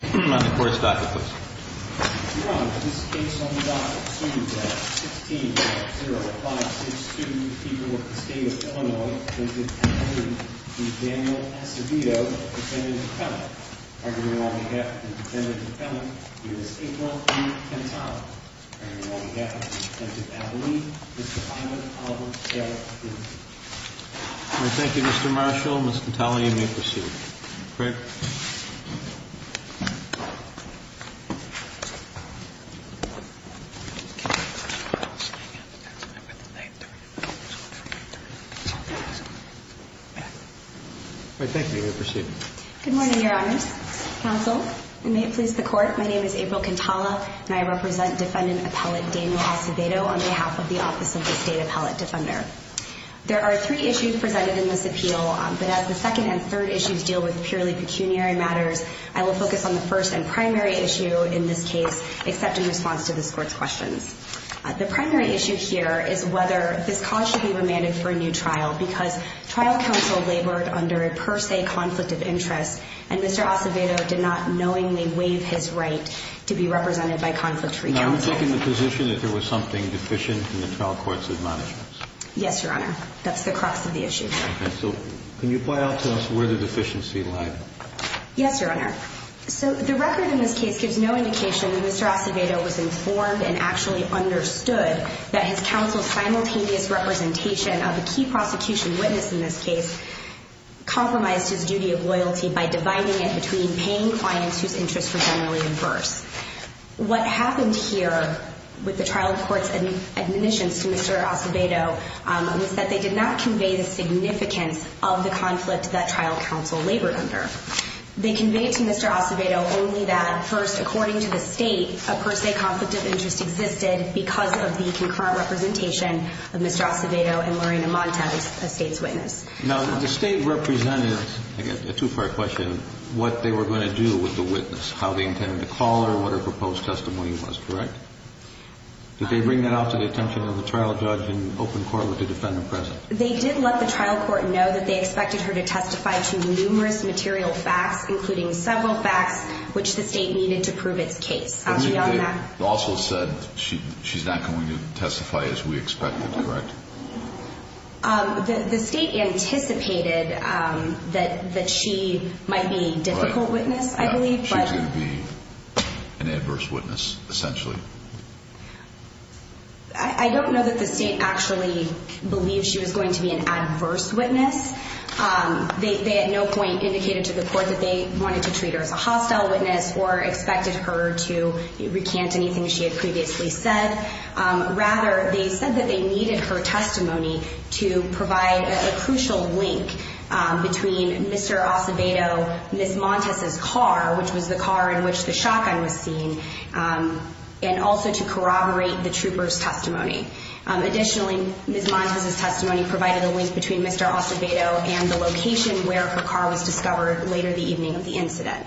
On the court's docket, please. Your Honor, this case on the docket, suit number 16-0562, the people of the state of Illinois, present at the hearing the Daniel Acevedo, defendant-defendant. Arguing on behalf of the defendant-defendant, he is April E. Cantale. Arguing on behalf of the defendant-defendant, I believe, Mr. Ivan Oliver Gallo III. Thank you, Mr. Marshall. Ms. Cantale, you may proceed. Great. Thank you. You may proceed. Good morning, Your Honors. Counsel, and may it please the Court, my name is April Cantale, and I represent defendant appellate Daniel Acevedo on behalf of the Office of the State Appellate Defender. There are three issues presented in this appeal, but as the second and third issues deal with purely pecuniary matters, I will focus on the first and primary issue in this case, except in response to this Court's questions. The primary issue here is whether this cause should be remanded for a new trial, because trial counsel labored under a per se conflict of interest, and Mr. Acevedo did not knowingly waive his right to be represented by conflict free counsel. I'm taking the position that there was something deficient in the trial court's admonishments. Yes, Your Honor. That's the crux of the issue. Okay. So can you point out to us where the deficiency lied? Yes, Your Honor. So the record in this case gives no indication that Mr. Acevedo was informed and actually understood that his counsel's simultaneous representation of a key prosecution witness in this case compromised his duty of loyalty by dividing it between paying clients whose interests were generally inverse. What happened here with the trial court's admonishments to Mr. Acevedo was that they did not convey the significance of the conflict that trial counsel labored under. They conveyed to Mr. Acevedo only that, first, according to the State, a per se conflict of interest existed because of the concurrent representation of Mr. Acevedo and Lorena Montes, a State's witness. Now, the State represented, again, a two-part question, what they were going to do with the witness, how they intended to call her, what her proposed testimony was, correct? Did they bring that out to the attention of the trial judge and open court with the defendant present? They did let the trial court know that they expected her to testify to numerous material facts, including several facts which the State needed to prove its case. They also said she's not going to testify as we expected, correct? The State anticipated that she might be a difficult witness, I believe. She could be an adverse witness, essentially. I don't know that the State actually believed she was going to be an adverse witness. They at no point indicated to the court that they wanted to treat her as a hostile witness or expected her to recant anything she had previously said. Rather, they said that they needed her testimony to provide a crucial link between Mr. Acevedo, Ms. Montes' car, which was the car in which the shotgun was seen, and also to corroborate the trooper's testimony. Additionally, Ms. Montes' testimony provided a link between Mr. Acevedo and the location where her car was discovered later the evening of the incident.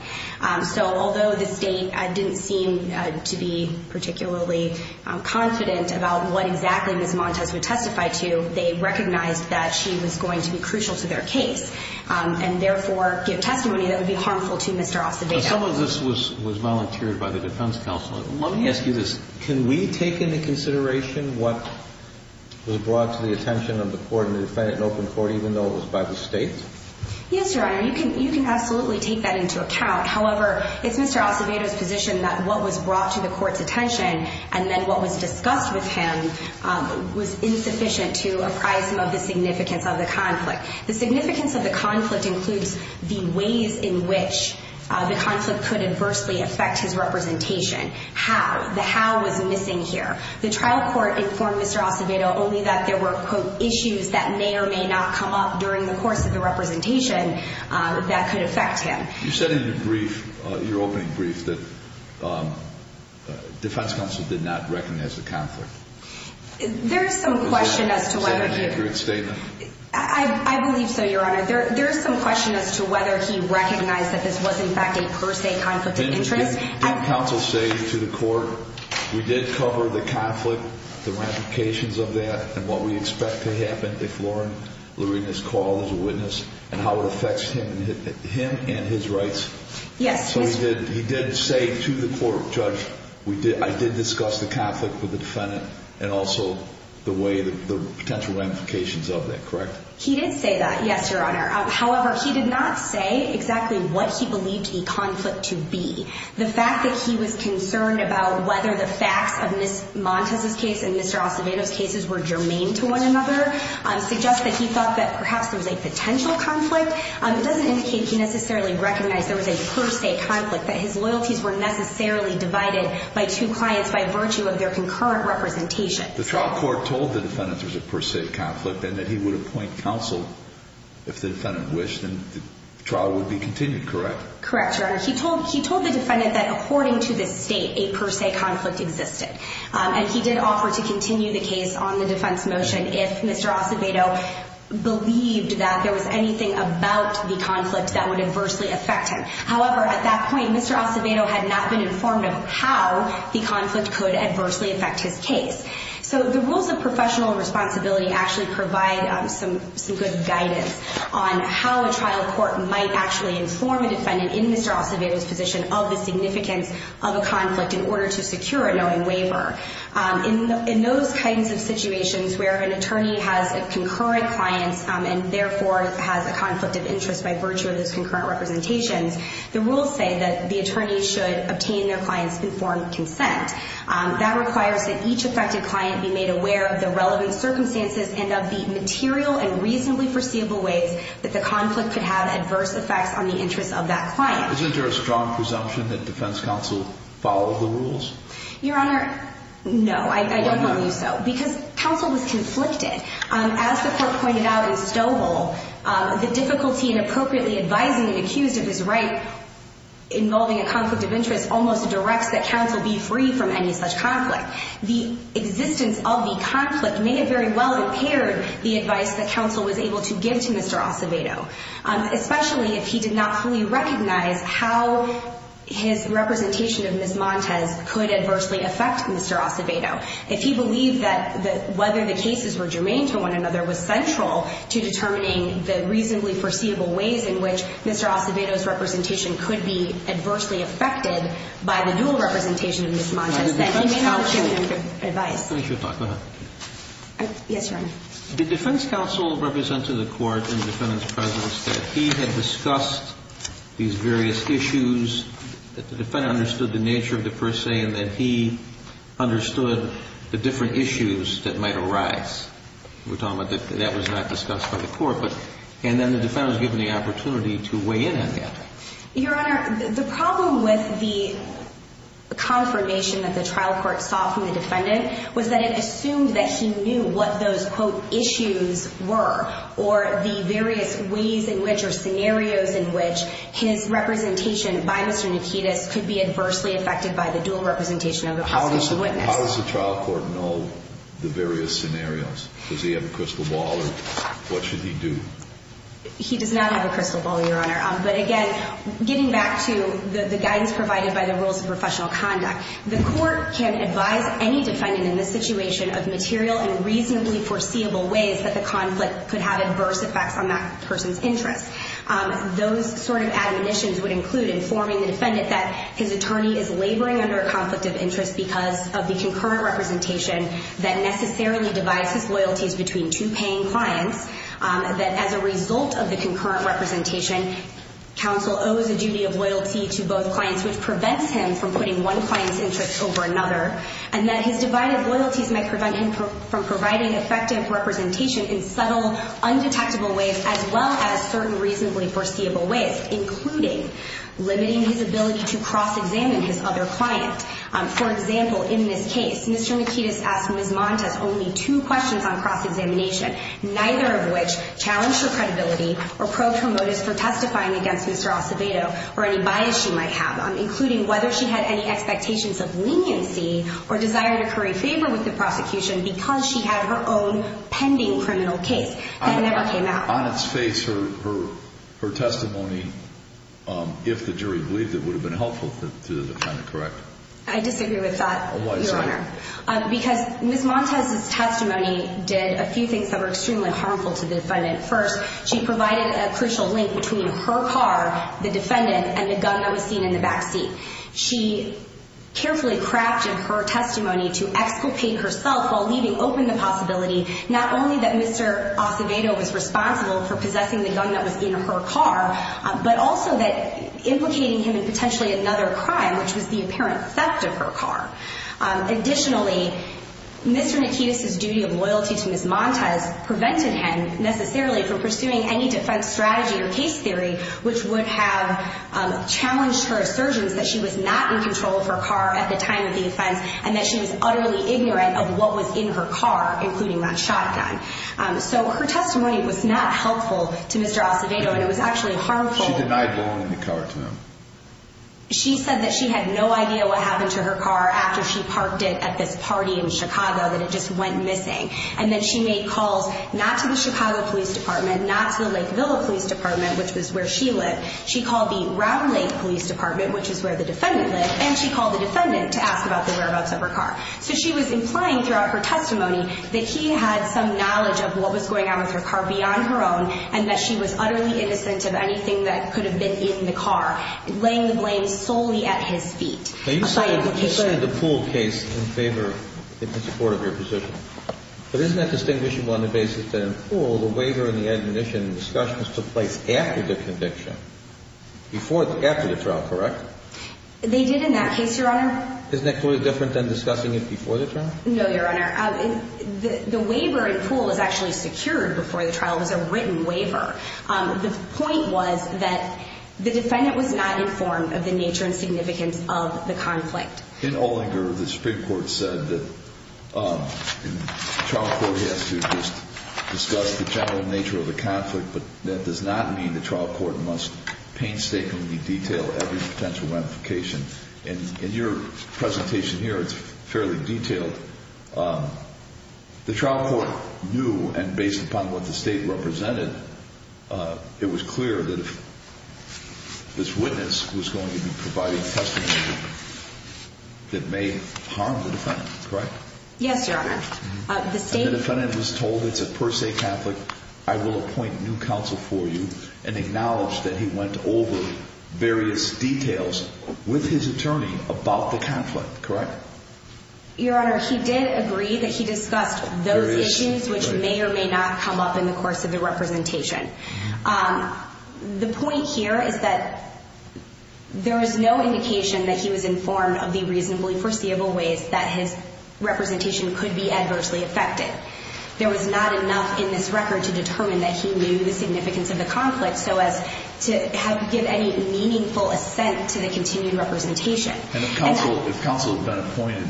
So although the State didn't seem to be particularly confident about what exactly Ms. Montes would testify to, they recognized that she was going to be crucial to their case and therefore give testimony that would be harmful to Mr. Acevedo. Some of this was volunteered by the defense counsel. Let me ask you this. Can we take into consideration what was brought to the attention of the court and the defendant in open court even though it was by the State? Yes, Your Honor. You can absolutely take that into account. However, it's Mr. Acevedo's position that what was brought to the court's attention and then what was discussed with him was insufficient to apprise him of the significance of the conflict. The significance of the conflict includes the ways in which the conflict could adversely affect his representation. How? The how was missing here. The trial court informed Mr. Acevedo only that there were, quote, issues that may or may not come up during the course of the representation that could affect him. You said in your brief, your opening brief, that defense counsel did not recognize the conflict. There is some question as to whether he... Was that an accurate statement? I believe so, Your Honor. There is some question as to whether he recognized that this was, in fact, a per se conflict of interest. Did counsel say to the court, we did cover the conflict, the ramifications of that, and what we expect to happen if Lauren Lurina is called as a witness and how it affects him and his rights? Yes. So he did say to the court, Judge, I did discuss the conflict with the defendant and also the potential ramifications of that, correct? He did say that, yes, Your Honor. However, he did not say exactly what he believed the conflict to be. The fact that he was concerned about whether the facts of Ms. Montez's case and Mr. Acevedo's cases were germane to one another suggests that he thought that perhaps there was a potential conflict. It doesn't indicate he necessarily recognized there was a per se conflict, that his loyalties were necessarily divided by two clients by virtue of their concurrent representation. The trial court told the defendant there was a per se conflict and that he would appoint counsel if the defendant wished, and the trial would be continued, correct? Correct, Your Honor. He told the defendant that according to the state, a per se conflict existed, and he did offer to continue the case on the defense motion if Mr. Acevedo believed that there was anything about the conflict that would adversely affect him. However, at that point, Mr. Acevedo had not been informed of how the conflict could adversely affect his case. So the rules of professional responsibility actually provide some good guidance on how a trial court might actually inform a defendant in Mr. Acevedo's position of the significance of a conflict in order to secure a knowing waiver. In those kinds of situations where an attorney has concurrent clients and therefore has a conflict of interest by virtue of those concurrent representations, the rules say that the attorney should obtain their client's informed consent. That requires that each affected client be made aware of the relevant circumstances and of the material and reasonably foreseeable ways that the conflict could have adverse effects on the interests of that client. Isn't there a strong presumption that defense counsel followed the rules? Your Honor, no, I don't believe so, because counsel was conflicted. As the court pointed out in Stovall, the difficulty in appropriately advising an accused of his right involving a conflict of interest almost directs that counsel be free from any such conflict. The existence of the conflict may have very well impaired the advice that counsel was able to give to Mr. Acevedo, especially if he did not fully recognize how his representation of Ms. Montez could adversely affect Mr. Acevedo. If he believed that whether the cases were germane to one another was central to determining the reasonably foreseeable ways in which Mr. Acevedo's representation could be adversely affected by the dual representation of Ms. Montez, then he may not have given good advice. Let me finish my talk. Go ahead. Yes, Your Honor. The defense counsel represented the court in the defendant's presence that he had discussed these various issues, that the defendant understood the nature of the per se, and that he understood the different issues that might arise. We're talking about that was not discussed by the court, and then the defendant was given the opportunity to weigh in on that. Your Honor, the problem with the confirmation that the trial court saw from the defendant was that it assumed that he knew what those, quote, issues were, or the various ways in which or scenarios in which his representation by Mr. Nikitas could be adversely affected by the dual representation of the prosecution witness. How does the trial court know the various scenarios? Does he have a crystal ball, or what should he do? He does not have a crystal ball, Your Honor. But again, getting back to the guidance provided by the rules of professional conduct, the court can advise any defendant in this situation of material and reasonably foreseeable ways that the conflict could have adverse effects on that person's interests. Those sort of admonitions would include informing the defendant that his attorney is laboring under a conflict of interest because of the concurrent representation that necessarily divides his loyalties between two paying clients, that as a result of the concurrent representation, counsel owes a duty of loyalty to both clients, which prevents him from putting one client's interests over another, and that his divided loyalties might prevent him from providing effective representation in subtle, undetectable ways, as well as certain reasonably foreseeable ways, including limiting his ability to cross-examine his other client. For example, in this case, Mr. Nikitas asked Ms. Montes only two questions on cross-examination, neither of which challenged her credibility or probed her motives for testifying against Mr. Acevedo or any bias she might have, including whether she had any expectations of leniency or desired to curry favor with the prosecution because she had her own pending criminal case. That never came out. On its face, her testimony, if the jury believed it, would have been helpful to the defendant, correct? Why is that? Because Ms. Montes' testimony did a few things that were extremely harmful to the defendant. First, she provided a crucial link between her car, the defendant, and the gun that was seen in the backseat. She carefully crafted her testimony to exculpate herself while leaving open the possibility not only that Mr. Acevedo was responsible for possessing the gun that was in her car, but also that implicating him in potentially another crime, which was the apparent theft of her car. Additionally, Mr. Nikitas' duty of loyalty to Ms. Montes prevented him, necessarily, from pursuing any defense strategy or case theory which would have challenged her assertions that she was not in control of her car at the time of the offense and that she was utterly ignorant of what was in her car, including that shotgun. So her testimony was not helpful to Mr. Acevedo, and it was actually harmful. She denied belonging the car to him. She said that she had no idea what happened to her car after she parked it at this party in Chicago, that it just went missing, and that she made calls not to the Chicago Police Department, not to the Lakeville Police Department, which was where she lived. She called the Round Lake Police Department, which is where the defendant lived, and she called the defendant to ask about the whereabouts of her car. So she was implying throughout her testimony that he had some knowledge of what was going on with her car beyond her own and that she was utterly innocent of anything that could have been in the car. Laying the blame solely at his feet. Now, you cited the Poole case in favor, in support of your position. But isn't that distinguishable on the basis that in Poole, the waiver and the admonition discussions took place after the conviction, before, after the trial, correct? They did in that case, Your Honor. Isn't that totally different than discussing it before the trial? No, Your Honor. The waiver in Poole is actually secured before the trial. It was a written waiver. The point was that the defendant was not informed of the nature and significance of the conflict. In Olinger, the Supreme Court said that the trial court has to discuss the general nature of the conflict, but that does not mean the trial court must painstakingly detail every potential ramification. In your presentation here, it's fairly detailed. The trial court knew, and based upon what the state represented, it was clear that if this witness was going to be providing testimony that may harm the defendant, correct? Yes, Your Honor. And the defendant was told, it's a per se conflict, I will appoint new counsel for you, and acknowledged that he went over various details with his attorney about the conflict, correct? Your Honor, he did agree that he discussed those issues which may or may not come up in the course of the representation. The point here is that there is no indication that he was informed of the reasonably foreseeable ways that his representation could be adversely affected. There was not enough in this record to determine that he knew the significance of the conflict so as to give any meaningful assent to the continued representation. And if counsel had been appointed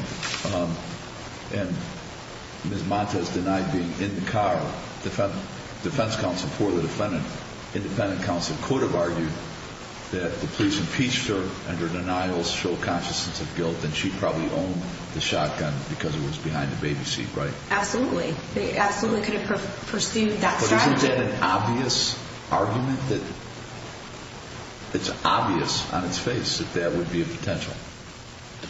and Ms. Montes denied being in the car, defense counsel for the defendant, independent counsel, could have argued that the police impeached her under denials, show consciousness of guilt, and she probably owned the shotgun because it was behind the baby seat, right? Absolutely. They absolutely could have pursued that strategy. Is that an obvious argument? It's obvious on its face that that would be a potential.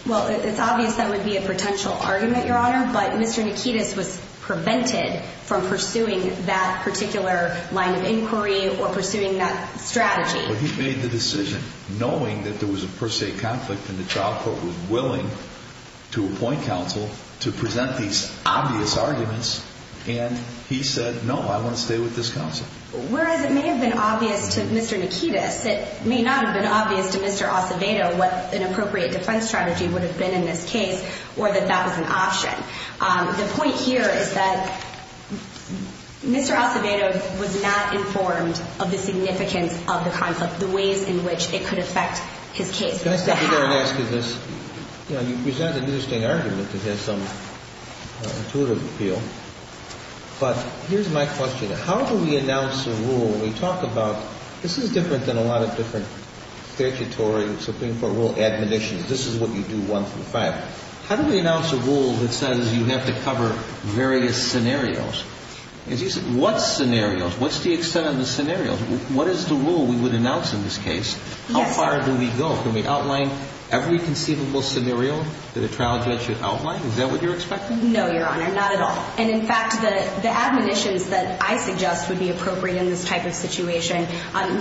Well, it's obvious that would be a potential argument, Your Honor, but Mr. Nikitas was prevented from pursuing that particular line of inquiry or pursuing that strategy. Well, he made the decision knowing that there was a per se conflict and the trial court was willing to appoint counsel to present these obvious arguments and he said, no, I want to stay with this counsel. Whereas it may have been obvious to Mr. Nikitas, it may not have been obvious to Mr. Acevedo what an appropriate defense strategy would have been in this case or that that was an option. The point here is that Mr. Acevedo was not informed of the significance of the conflict, the ways in which it could affect his case. Can I stop you there and ask you this? You know, you present an interesting argument that has some intuitive appeal, but here's my question. How do we announce a rule when we talk about this is different than a lot of different statutory, Supreme Court rule admonitions. This is what you do one through five. How do we announce a rule that says you have to cover various scenarios? What scenarios? What's the extent of the scenarios? What is the rule we would announce in this case? How far do we go? Can we outline every conceivable scenario that a trial judge should outline? Is that what you're expecting? No, Your Honor, not at all. And, in fact, the admonitions that I suggest would be appropriate in this type of situation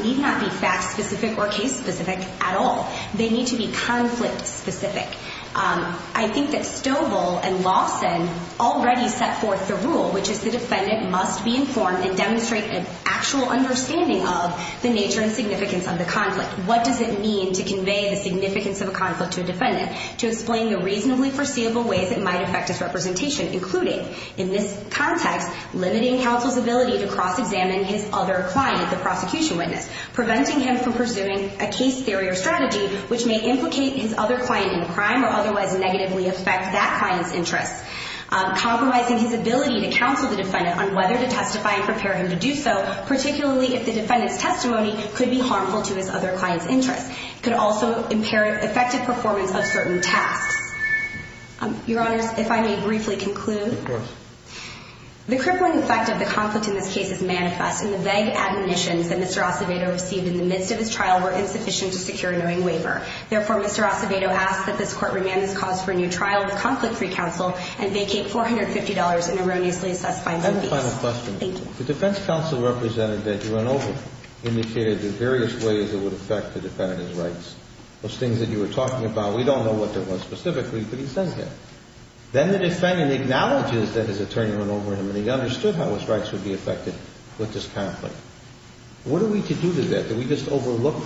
need not be fact-specific or case-specific at all. They need to be conflict-specific. I think that Stovall and Lawson already set forth the rule, which is the defendant must be informed and demonstrate an actual understanding of the nature and significance of the conflict. What does it mean to convey the significance of a conflict to a defendant? To explain the reasonably foreseeable ways it might affect his representation, including, in this context, limiting counsel's ability to cross-examine his other client, the prosecution witness, preventing him from pursuing a case theory or strategy which may implicate his other client in a crime or otherwise negatively affect that client's interests, compromising his ability to counsel the defendant on whether to testify and prepare him to do so, particularly if the defendant's testimony could be harmful to his other client's interests. It could also impair effective performance of certain tasks. Your Honors, if I may briefly conclude. Of course. The crippling effect of the conflict in this case is manifest, and the vague admonitions that Mr. Acevedo received in the midst of his trial were insufficient to secure a knowing waiver. Therefore, Mr. Acevedo asks that this Court remand this cause for a new trial with conflict-free counsel and vacate $450 in erroneously assessed fines and fees. I have a final question. Thank you. The defense counsel represented that you went over, indicated the various ways it would affect the defendant's rights, those things that you were talking about. We don't know what that was specifically, but he says that. Then the defendant acknowledges that his attorney went over him and he understood how his rights would be affected with this conflict. What are we to do to that? Do we just overlook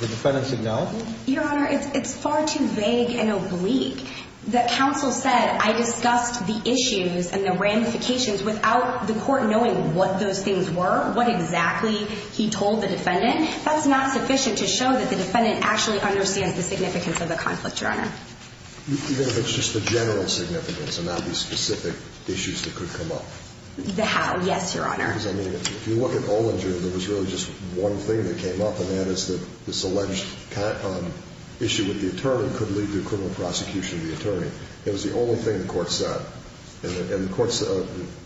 the defendant's acknowledgment? Your Honor, it's far too vague and oblique. The counsel said, I discussed the issues and the ramifications without the court knowing what those things were, what exactly he told the defendant. That's not sufficient to show that the defendant actually understands the significance of the conflict, Your Honor. Even if it's just the general significance and not the specific issues that could come up? The how, yes, Your Honor. Because, I mean, if you look at Olinger, there was really just one thing that came up, and that is that this alleged issue with the attorney could lead to a criminal prosecution of the attorney. It was the only thing the court said. And the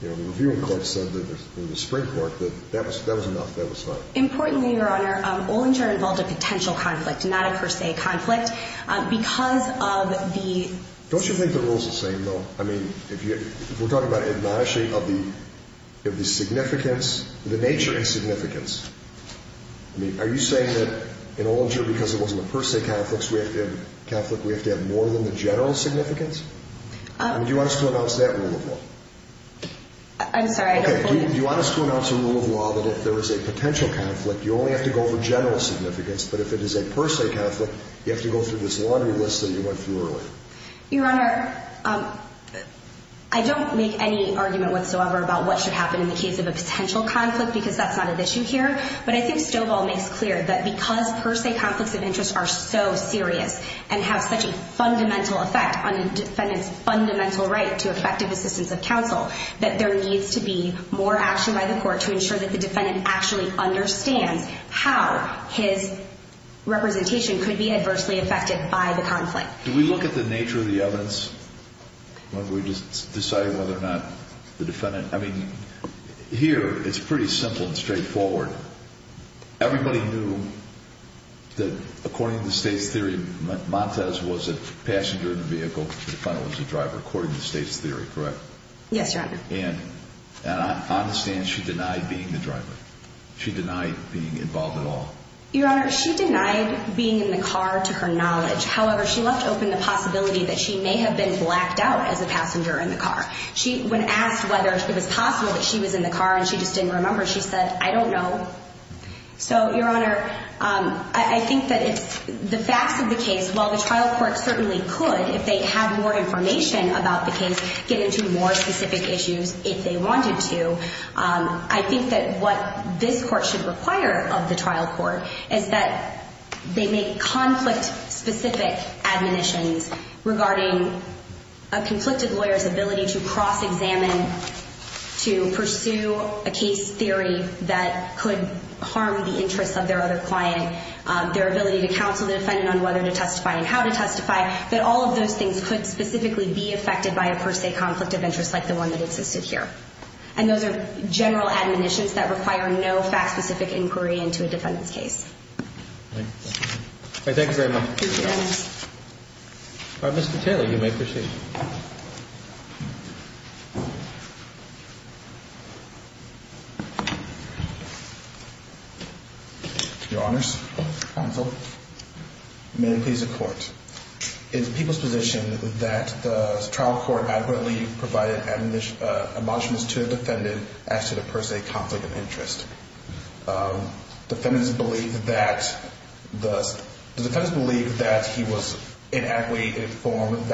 reviewing court said in the Supreme Court that that was enough, that was fine. Importantly, Your Honor, Olinger involved a potential conflict, not a per se conflict. Because of the – Don't you think the rules are the same, though? I mean, if we're talking about admonishing of the significance, the nature of significance, I mean, are you saying that in Olinger, because it wasn't a per se conflict, we have to have more than the general significance? Do you want us to announce that rule of law? I'm sorry. Okay, do you want us to announce a rule of law that if there is a potential conflict, you only have to go over general significance, but if it is a per se conflict, you have to go through this laundry list that you went through earlier? Your Honor, I don't make any argument whatsoever about what should happen in the case of a potential conflict because that's not an issue here. But I think Stovall makes clear that because per se conflicts of interest are so serious and have such a fundamental effect on a defendant's fundamental right to effective assistance of counsel, that there needs to be more action by the court to ensure that the defendant actually understands Do we look at the nature of the evidence when we decide whether or not the defendant, I mean, here it's pretty simple and straightforward. Everybody knew that according to the state's theory, Montez was a passenger in the vehicle, the defendant was the driver, according to the state's theory, correct? Yes, Your Honor. And on the stand, she denied being the driver. She denied being involved at all. Your Honor, she denied being in the car to her knowledge. However, she left open the possibility that she may have been blacked out as a passenger in the car. When asked whether it was possible that she was in the car and she just didn't remember, she said, I don't know. So, Your Honor, I think that the facts of the case, while the trial court certainly could, if they had more information about the case, get into more specific issues if they wanted to, I think that what this court should require of the trial court is that they make conflict-specific admonitions regarding a conflicted lawyer's ability to cross-examine, to pursue a case theory that could harm the interests of their other client, their ability to counsel the defendant on whether to testify and how to testify, that all of those things could specifically be affected by a per se conflict of interest like the one that existed here. And those are general admonitions that require no fact-specific inquiry into a defendant's case. Thank you. Thank you very much. Thank you, Your Honor. Mr. Taylor, you may proceed. Your Honors, counsel, may it please the Court, it is the people's position that the trial court adequately provided admonitions to the defendant as to the per se conflict of interest. Defendants believe that he was inadequately informed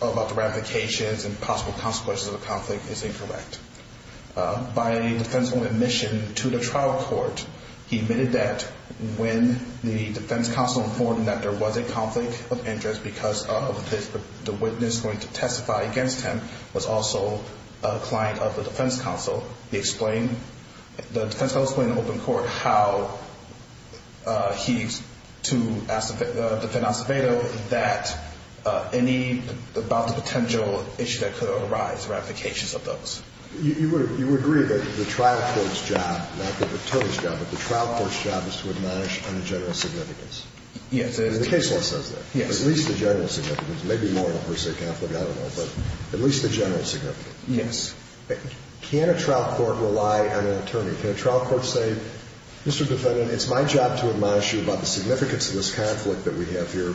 about the ramifications and possible consequences of the conflict is incorrect. By a defense-only admission to the trial court, he admitted that when the defense counsel informed him that there was a conflict of interest because the witness going to testify against him was also a client of the defense counsel, the defense counsel explained in open court how he, to defend Acevedo, that any about the potential issue that could arise, ramifications of those. You agree that the trial court's job, not the attorney's job, but the trial court's job is to admonish on a general significance. Yes. The case law says that. Yes. At least a general significance, maybe more than a per se conflict, I don't know, but at least a general significance. Yes. Can a trial court rely on an attorney? Can a trial court say, Mr. Defendant, it's my job to admonish you about the significance of this conflict that we have here,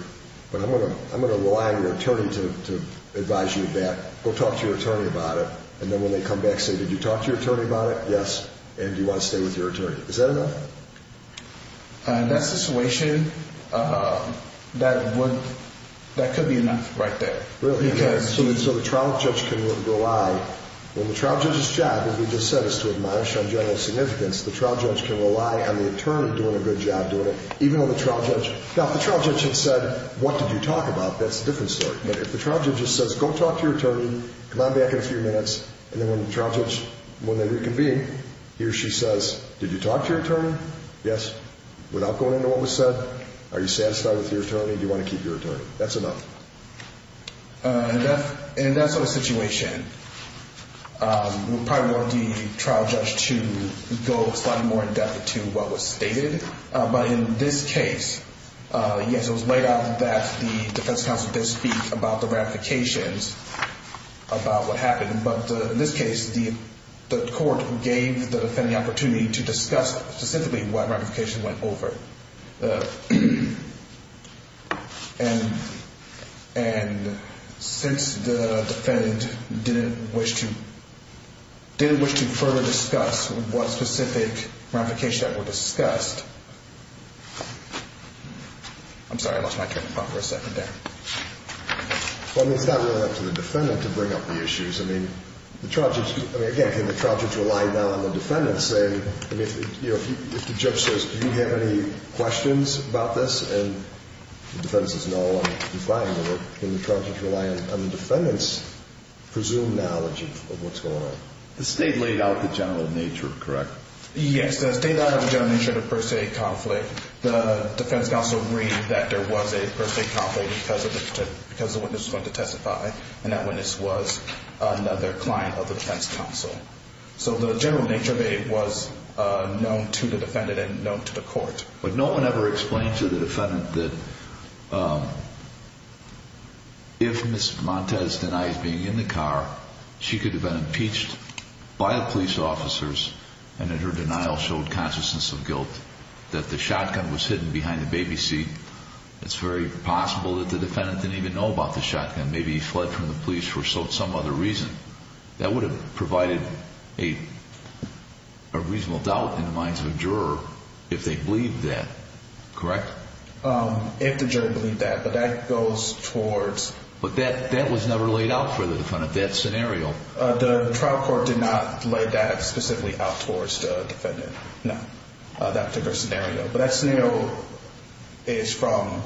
but I'm going to rely on your attorney to advise you of that. Go talk to your attorney about it. And then when they come back, say, did you talk to your attorney about it? Yes. And do you want to stay with your attorney? Is that enough? In that situation, that could be enough right there. Really? Okay. So the trial judge can rely. When the trial judge's job, as we just said, is to admonish on general significance, the trial judge can rely on the attorney doing a good job doing it, even though the trial judge. Now, if the trial judge had said, what did you talk about, that's a different story. But if the trial judge just says, go talk to your attorney, come on back in a few minutes, and then when the trial judge, when they reconvene, he or she says, did you talk to your attorney? Yes. Without going into what was said, are you satisfied with your attorney? Do you want to keep your attorney? That's enough. In that sort of situation, we probably want the trial judge to go slightly more in depth to what was stated. But in this case, yes, it was laid out that the defense counsel did speak about the ramifications about what happened. But in this case, the court gave the defendant the opportunity to discuss specifically what ramifications went over. And since the defendant didn't wish to further discuss what specific ramifications that were discussed, I'm sorry, I lost my train of thought for a second there. Well, it's not really up to the defendant to bring up the issues. I mean, the trial judge, again, can the trial judge rely now on the defendant saying, I mean, if the judge says, do you have any questions about this, and the defendant says no, I'm defiant of it, can the trial judge rely on the defendant's presumed knowledge of what's going on? The state laid out the general nature, correct? Yes, the state laid out the general nature of the first aid conflict. The defense counsel agreed that there was a first aid conflict because the witness was going to testify, and that witness was another client of the defense counsel. So the general nature of aid was known to the defendant and known to the court. But no one ever explained to the defendant that if Ms. Montez denies being in the car, she could have been impeached by the police officers and that her denial showed consciousness of guilt, that the shotgun was hidden behind the baby seat. It's very possible that the defendant didn't even know about the shotgun. Maybe he fled from the police for some other reason. That would have provided a reasonable doubt in the minds of a juror if they believed that, correct? If the juror believed that. But that goes towards... But that was never laid out for the defendant, that scenario. The trial court did not lay that specifically out towards the defendant, no, that particular scenario. But that scenario is from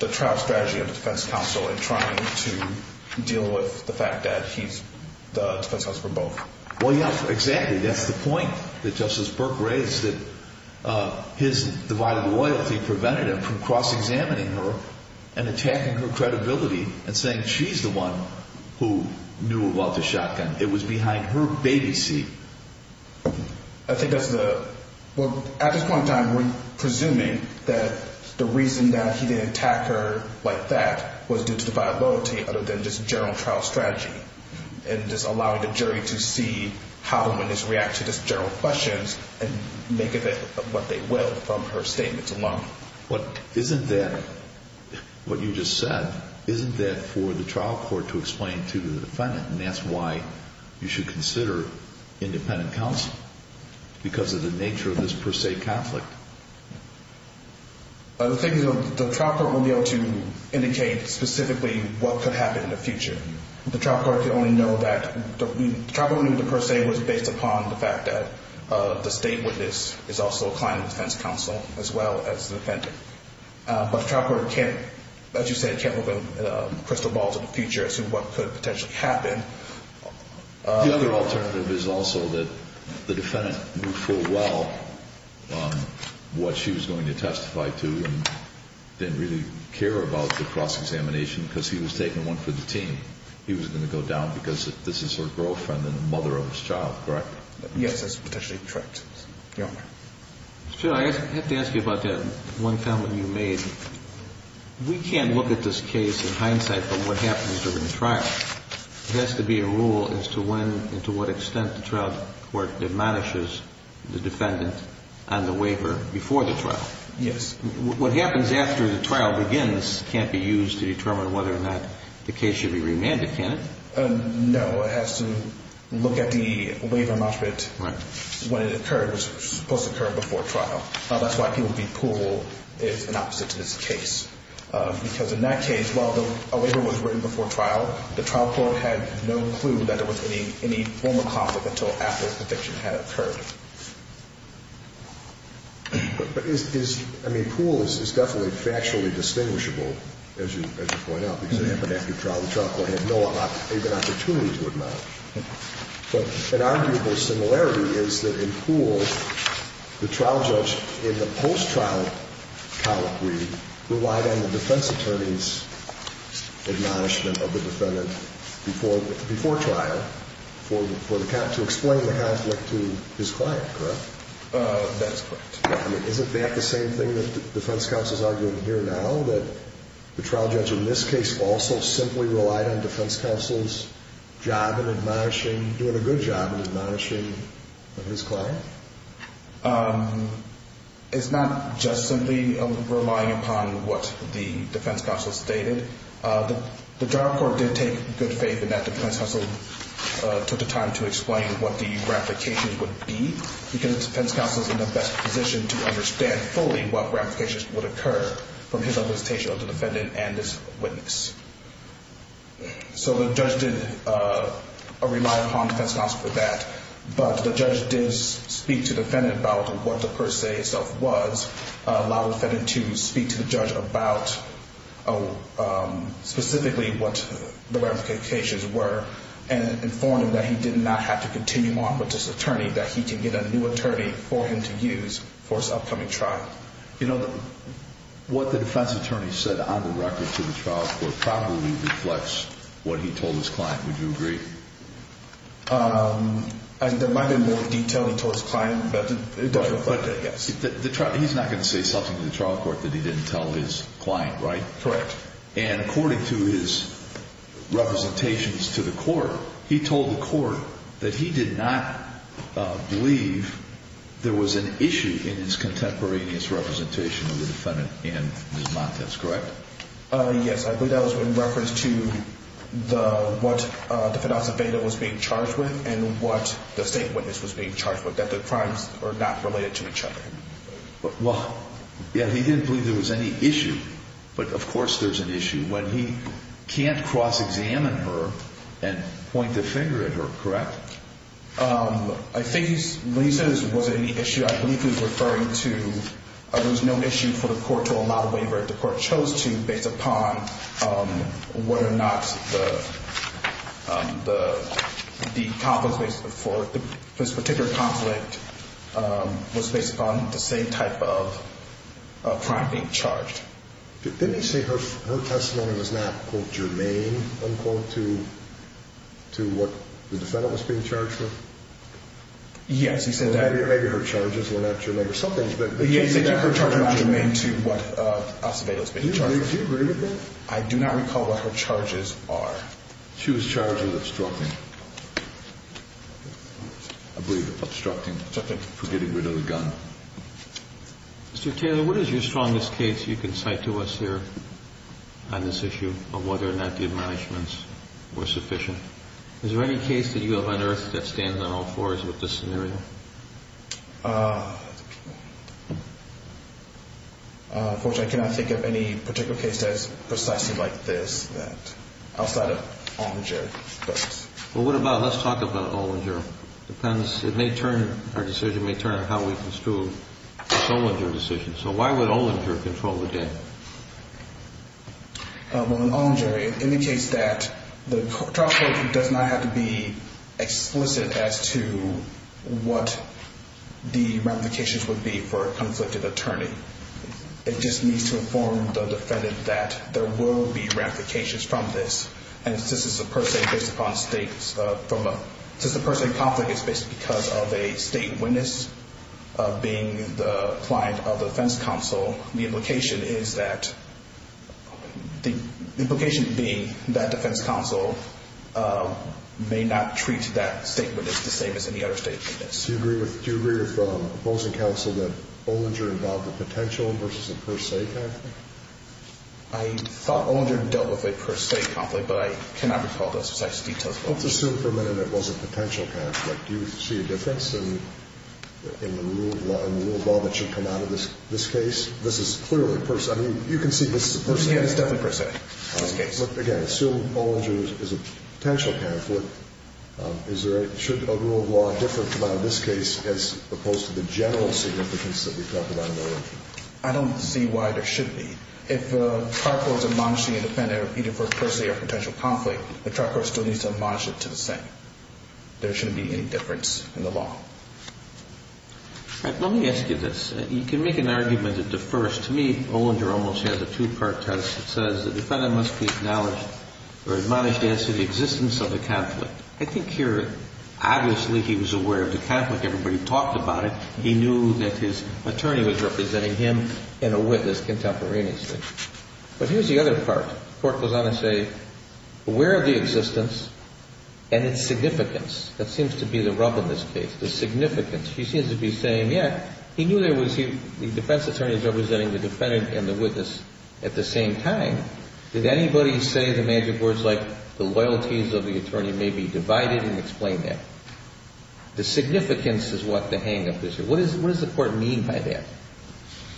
the trial strategy of the defense counsel in trying to deal with the fact that he's the defense counsel for both. Well, yes, exactly. That's the point that Justice Burke raised, that his divided loyalty prevented him from cross-examining her and attacking her credibility and saying she's the one who knew about the shotgun. It was behind her baby seat. I think that's the... Well, at this point in time, we're presuming that the reason that he didn't attack her like that was due to the viability other than just general trial strategy and just allowing the jury to see how the witness reacted to just general questions and make of it what they will from her statements alone. But isn't that, what you just said, isn't that for the trial court to explain to the defendant? And that's why you should consider independent counsel, because of the nature of this per se conflict. The thing is, the trial court won't be able to indicate specifically what could happen in the future. The trial court could only know that... The trial court wouldn't know per se was based upon the fact that the state witness is also a client defense counsel as well as the defendant. But the trial court can't, as you said, can't open crystal balls in the future as to what could potentially happen. The other alternative is also that the defendant knew full well what she was going to testify to and didn't really care about the cross-examination because he was taking one for the team. He was going to go down because this is her girlfriend and the mother of his child, correct? Yes, that's potentially correct. Judge, I have to ask you about that one comment you made. We can't look at this case in hindsight, but what happens during the trial, there has to be a rule as to when and to what extent the trial court demolishes the defendant on the waiver before the trial. Yes. What happens after the trial begins can't be used to determine whether or not the case should be remanded, can it? No, it has to look at the waiver, when it occurred, it was supposed to occur before trial. That's why people think Poole is an opposite to this case because in that case, while a waiver was written before trial, the trial court had no clue that there was any form of conflict until after the conviction had occurred. But is, I mean, Poole is definitely factually distinguishable, as you point out, because it happened after the trial. The trial court had no opportunity to acknowledge. But an arguable similarity is that in Poole, the trial judge in the post-trial colloquy relied on the defense attorney's acknowledgement of the defendant before trial to explain the conflict to his client, correct? That's correct. I mean, isn't that the same thing that the defense counsel is arguing here now, that the trial judge in this case also simply relied on the defense counsel's job in admonishing, doing a good job in admonishing his client? It's not just simply relying upon what the defense counsel stated. The trial court did take good faith in that the defense counsel took the time to explain what the ratifications would be because the defense counsel is in the best position to understand fully what ratifications would occur from his observation of the defendant and his witness. So the judge did rely upon the defense counsel for that, but the judge did speak to the defendant about what the per se itself was, allow the defendant to speak to the judge about specifically what the ratifications were, and inform him that he did not have to continue on with this attorney, that he can get a new attorney for him to use for his upcoming trial. You know, what the defense attorney said on the record to the trial court probably reflects what he told his client. Would you agree? There might be more detail he told his client, but it doesn't reflect it, yes. He's not going to say something to the trial court that he didn't tell his client, right? Correct. And according to his representations to the court, he told the court that he did not believe there was an issue in his contemporaneous representation of the defendant and Ms. Montes, correct? Yes, I believe that was in reference to what the defendant was being charged with and what the state witness was being charged with, that the crimes were not related to each other. Well, yeah, he didn't believe there was any issue, but of course there's an issue. When he can't cross-examine her and point the finger at her, correct? I think when he said there wasn't any issue, I believe he was referring to there was no issue for the court to allow a waiver based upon whether or not this particular conflict was based upon the same type of crime being charged. Didn't he say her testimony was not, quote, germane, unquote, to what the defendant was being charged with? Yes, he said that. Maybe her charges were not germane or something. He said her charges were not germane to what Alcibado was being charged with. Do you agree with that? I do not recall what her charges are. She was charged with obstructing. I believe obstructing. Something. For getting rid of the gun. Mr. Taylor, what is your strongest case you can cite to us here on this issue of whether or not the admonishments were sufficient? Is there any case that you have unearthed that stands on all fours with this scenario? Unfortunately, I cannot think of any particular case that is precisely like this outside of Olinger. Well, what about, let's talk about Olinger. It may turn, our decision may turn on how we construe the Olinger decision. So why would Olinger control the game? Well, in Olinger, it indicates that the trial court does not have to be explicit as to what the ramifications would be for a conflicted attorney. It just needs to inform the defendant that there will be ramifications from this. And since it's a per se based upon states, since the per se conflict is based because of a state witness being the client of the defense counsel, the implication is that, the implication being that defense counsel may not treat that state witness the same as any other state witness. Do you agree with, do you agree with opposing counsel that Olinger involved a potential versus a per se conflict? I thought Olinger dealt with a per se conflict, but I cannot recall those precise details. Let's assume for a minute it was a potential conflict. Do you see a difference in the rule of law that should come out of this case? This is clearly a per se. I mean, you can see this is a per se. Yeah, it's definitely per se in this case. Again, assume Olinger is a potential conflict. Should a rule of law differ from this case as opposed to the general significance that we talked about in Olinger? I don't see why there should be. If a trial court is admonishing a defendant either for a per se or potential conflict, the trial court still needs to admonish it to the same. There shouldn't be any difference in the law. Let me ask you this. You can make an argument at the first. To me, Olinger almost has a two-part test. It says the defendant must be acknowledged or admonished as to the existence of the conflict. I think here, obviously, he was aware of the conflict. Everybody talked about it. He knew that his attorney was representing him and a witness contemporaneously. But here's the other part. The court goes on to say, aware of the existence and its significance. That seems to be the rub in this case, the significance. He seems to be saying, yeah, he knew there was the defense attorney was representing the defendant and the witness at the same time. Did anybody say the magic words like the loyalties of the attorney may be divided and explain that? The significance is what the hang-up is here. What does the court mean by that?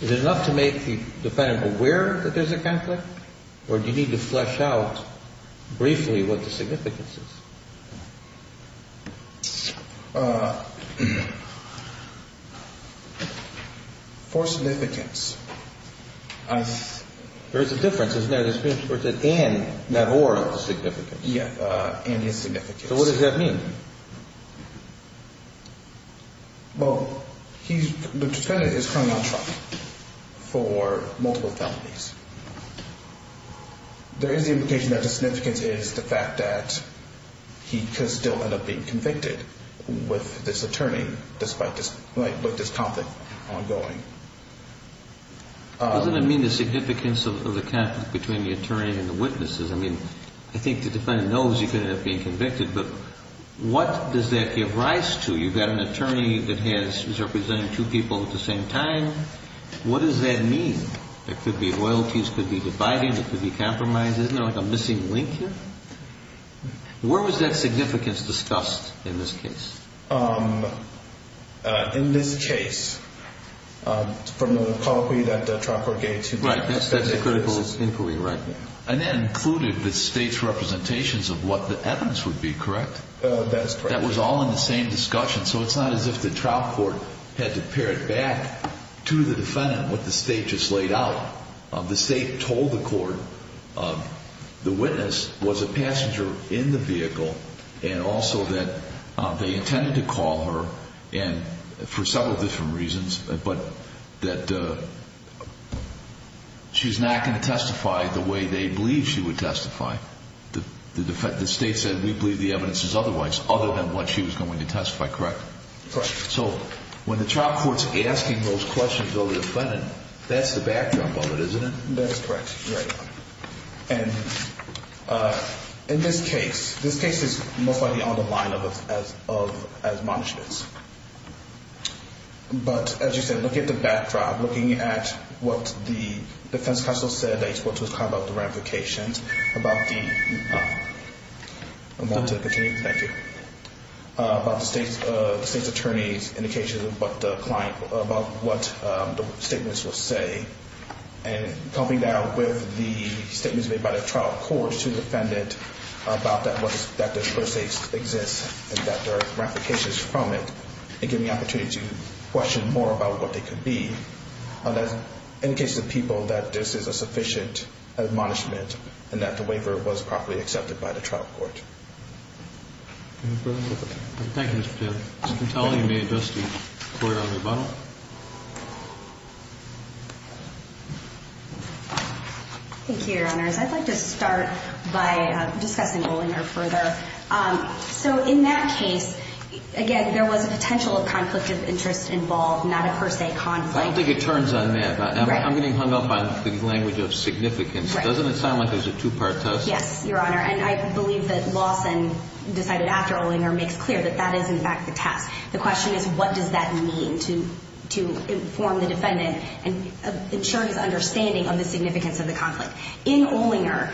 Is it enough to make the defendant aware that there's a conflict? Or do you need to flesh out briefly what the significance is? For significance. There's a difference, isn't there? There's an and, not or, of the significance. Yeah. And its significance. So what does that mean? Well, the defendant is currently on trial for multiple felonies. There is the implication that the significance is the fact that he could still end up being convicted with this attorney despite this conflict ongoing. Doesn't it mean the significance of the conflict between the attorney and the witnesses? I mean, I think the defendant knows he could end up being convicted. But what does that give rise to? You've got an attorney that is representing two people at the same time. What does that mean? There could be loyalties. It could be dividing. It could be compromise. Isn't there like a missing link here? Where was that significance discussed in this case? In this case, from the colloquy that Troncord gave to me. Right. That's the critical inquiry right there. And that included the state's representations of what the evidence would be, correct? That's correct. That was all in the same discussion. So it's not as if the trial court had to pare it back to the defendant with the state just laid out. The state told the court the witness was a passenger in the vehicle and also that they intended to call her for several different reasons, but that she's not going to testify the way they believe she would testify. The state said we believe the evidence is otherwise, other than what she was going to testify, correct? Correct. So when the trial court's asking those questions of the defendant, that's the backdrop of it, isn't it? That's correct. Right. And in this case, this case is most likely on the line of as much as. But as you said, looking at the backdrop, looking at what the defense counsel said, that you're supposed to describe about the ramifications, about the state's attorney's indications, about what the statements will say, and coming down with the statements made by the trial court to the defendant about that this person exists and that there are ramifications from it, and giving the opportunity to question more about what they could be, in the case of people, that this is a sufficient admonishment and that the waiver was properly accepted by the trial court. Thank you, Mr. Taylor. Ms. Contelli, you may address the court on rebuttal. Thank you, Your Honors. I'd like to start by discussing Olinger further. So in that case, again, there was a potential conflict of interest involved, not a per se conflict. I don't think it turns on that. I'm getting hung up on the language of significance. Doesn't it sound like there's a two-part test? Yes, Your Honor. And I believe that Lawson, decided after Olinger, makes clear that that is, in fact, the test. The question is, what does that mean to inform the defendant and ensure his understanding of the significance of the conflict? In Olinger,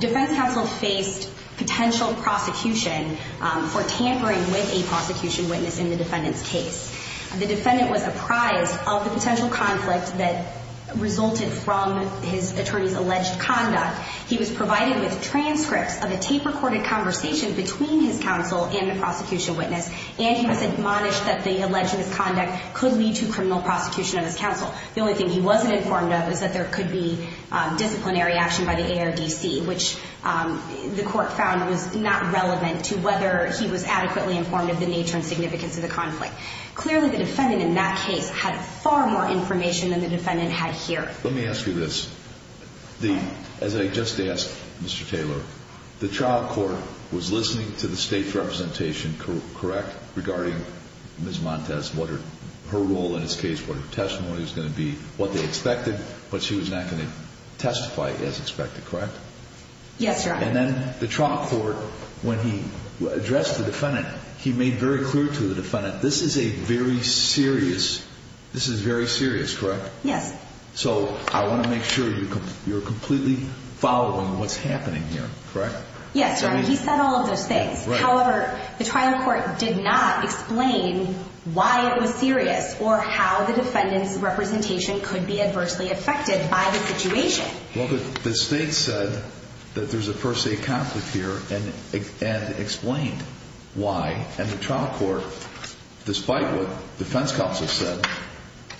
defense counsel faced potential prosecution for tampering with a prosecution witness in the defendant's case. The defendant was apprised of the potential conflict that resulted from his attorney's alleged conduct. He was provided with transcripts of a tape-recorded conversation between his counsel and the prosecution witness, and he was admonished that the alleged misconduct could lead to criminal prosecution of his counsel. The only thing he wasn't informed of is that there could be disciplinary action by the ARDC, which the court found was not relevant to whether he was adequately informed of the nature and significance of the conflict. Clearly, the defendant in that case had far more information than the defendant had here. Let me ask you this. As I just asked Mr. Taylor, the trial court was listening to the State's representation, correct, regarding Ms. Montes, what her role in this case, what her testimony was going to be, what they expected, but she was not going to testify as expected, correct? Yes, Your Honor. And then the trial court, when he addressed the defendant, he made very clear to the defendant, this is a very serious, this is very serious, correct? Yes. So I want to make sure you're completely following what's happening here, correct? Yes, Your Honor, he said all of those things. However, the trial court did not explain why it was serious or how the defendant's representation could be adversely affected by the situation. Well, the State said that there's a first-state conflict here and explained why, and the trial court, despite what defense counsel said,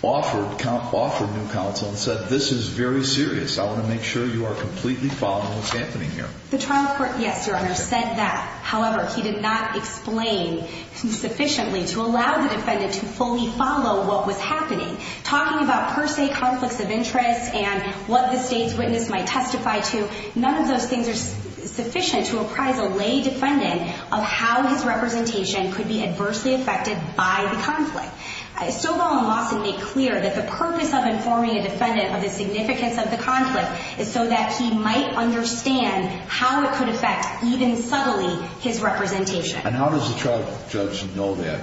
offered new counsel and said, this is very serious, I want to make sure you are completely following what's happening here. The trial court, yes, Your Honor, said that. However, he did not explain sufficiently to allow the defendant to fully follow what was happening. Talking about per se conflicts of interest and what the State's witness might testify to, none of those things are sufficient to apprise a lay defendant of how his representation could be adversely affected by the conflict. Sobel and Lawson made clear that the purpose of informing a defendant of the significance of the conflict is so that he might understand how it could affect, even subtly, his representation. And how does the trial judge know that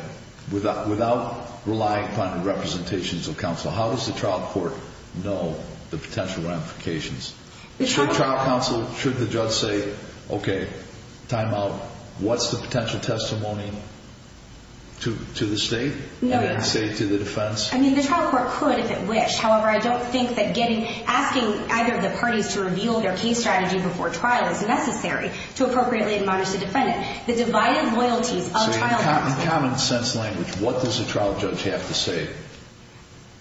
without relying upon the representations of counsel? How does the trial court know the potential ramifications? Should trial counsel, should the judge say, okay, time out, what's the potential testimony to the State? No, Your Honor. And then say to the defense? I mean, the trial court could if it wished. However, I don't think that asking either of the parties to reveal their case strategy before trial is necessary to appropriately admonish the defendant. The divided loyalties of trial counsel. So, in common sense language, what does the trial judge have to say?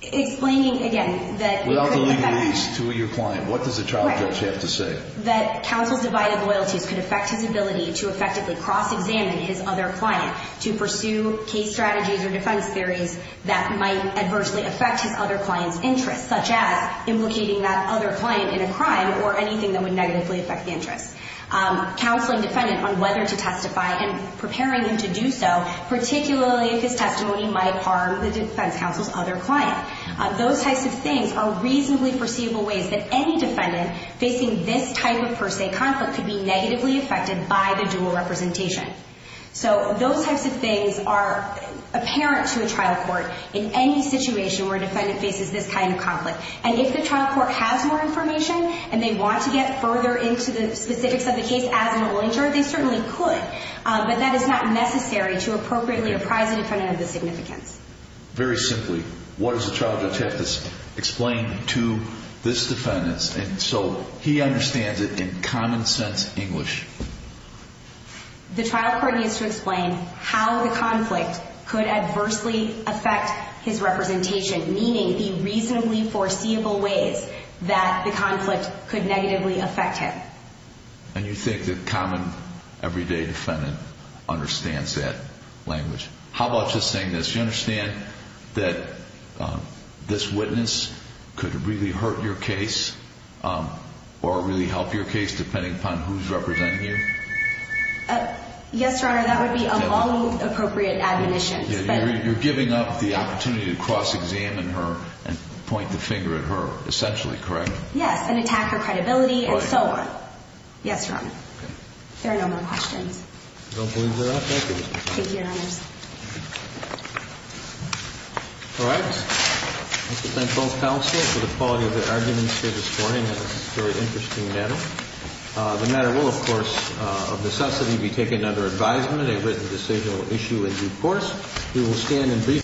Explaining, again, that we could defend. Without the legalese to your client, what does the trial judge have to say? That counsel's divided loyalties could affect his ability to effectively cross-examine his other client to pursue case strategies or defense theories that might adversely affect his other client's interest, such as implicating that other client in a crime or anything that would negatively affect the interest. Counseling defendant on whether to testify and preparing him to do so, particularly if his testimony might harm the defense counsel's other client. Those types of things are reasonably foreseeable ways that any defendant facing this type of per se conflict could be negatively affected by the dual representation. So, those types of things are apparent to a trial court in any situation where a defendant faces this kind of conflict. And if the trial court has more information and they want to get further into the specifics of the case as an injured, they certainly could. But that is not necessary to appropriately apprise the defendant of the significance. Very simply, what does the trial judge have to explain to this defendant so he understands it in common sense English? The trial court needs to explain how the conflict could adversely affect his representation, meaning the reasonably foreseeable ways that the conflict could negatively affect him. And you think the common, everyday defendant understands that language. How about just saying this, you understand that this witness could really hurt your case or really help your case depending upon who's representing you? Yes, Your Honor, that would be of all appropriate admonitions. You're giving up the opportunity to cross-examine her and point the finger at her, essentially, correct? Yes, and attack her credibility and so on. Yes, Your Honor. There are no more questions. I don't believe there are. Thank you, Mr. Connolly. Thank you, Your Honor. All right. I'd like to thank both counsel for the quality of their arguments here this morning. It was a very interesting matter. The matter will, of course, of necessity, be taken under advisement, a written decisional issue in due course. We will stand and brief.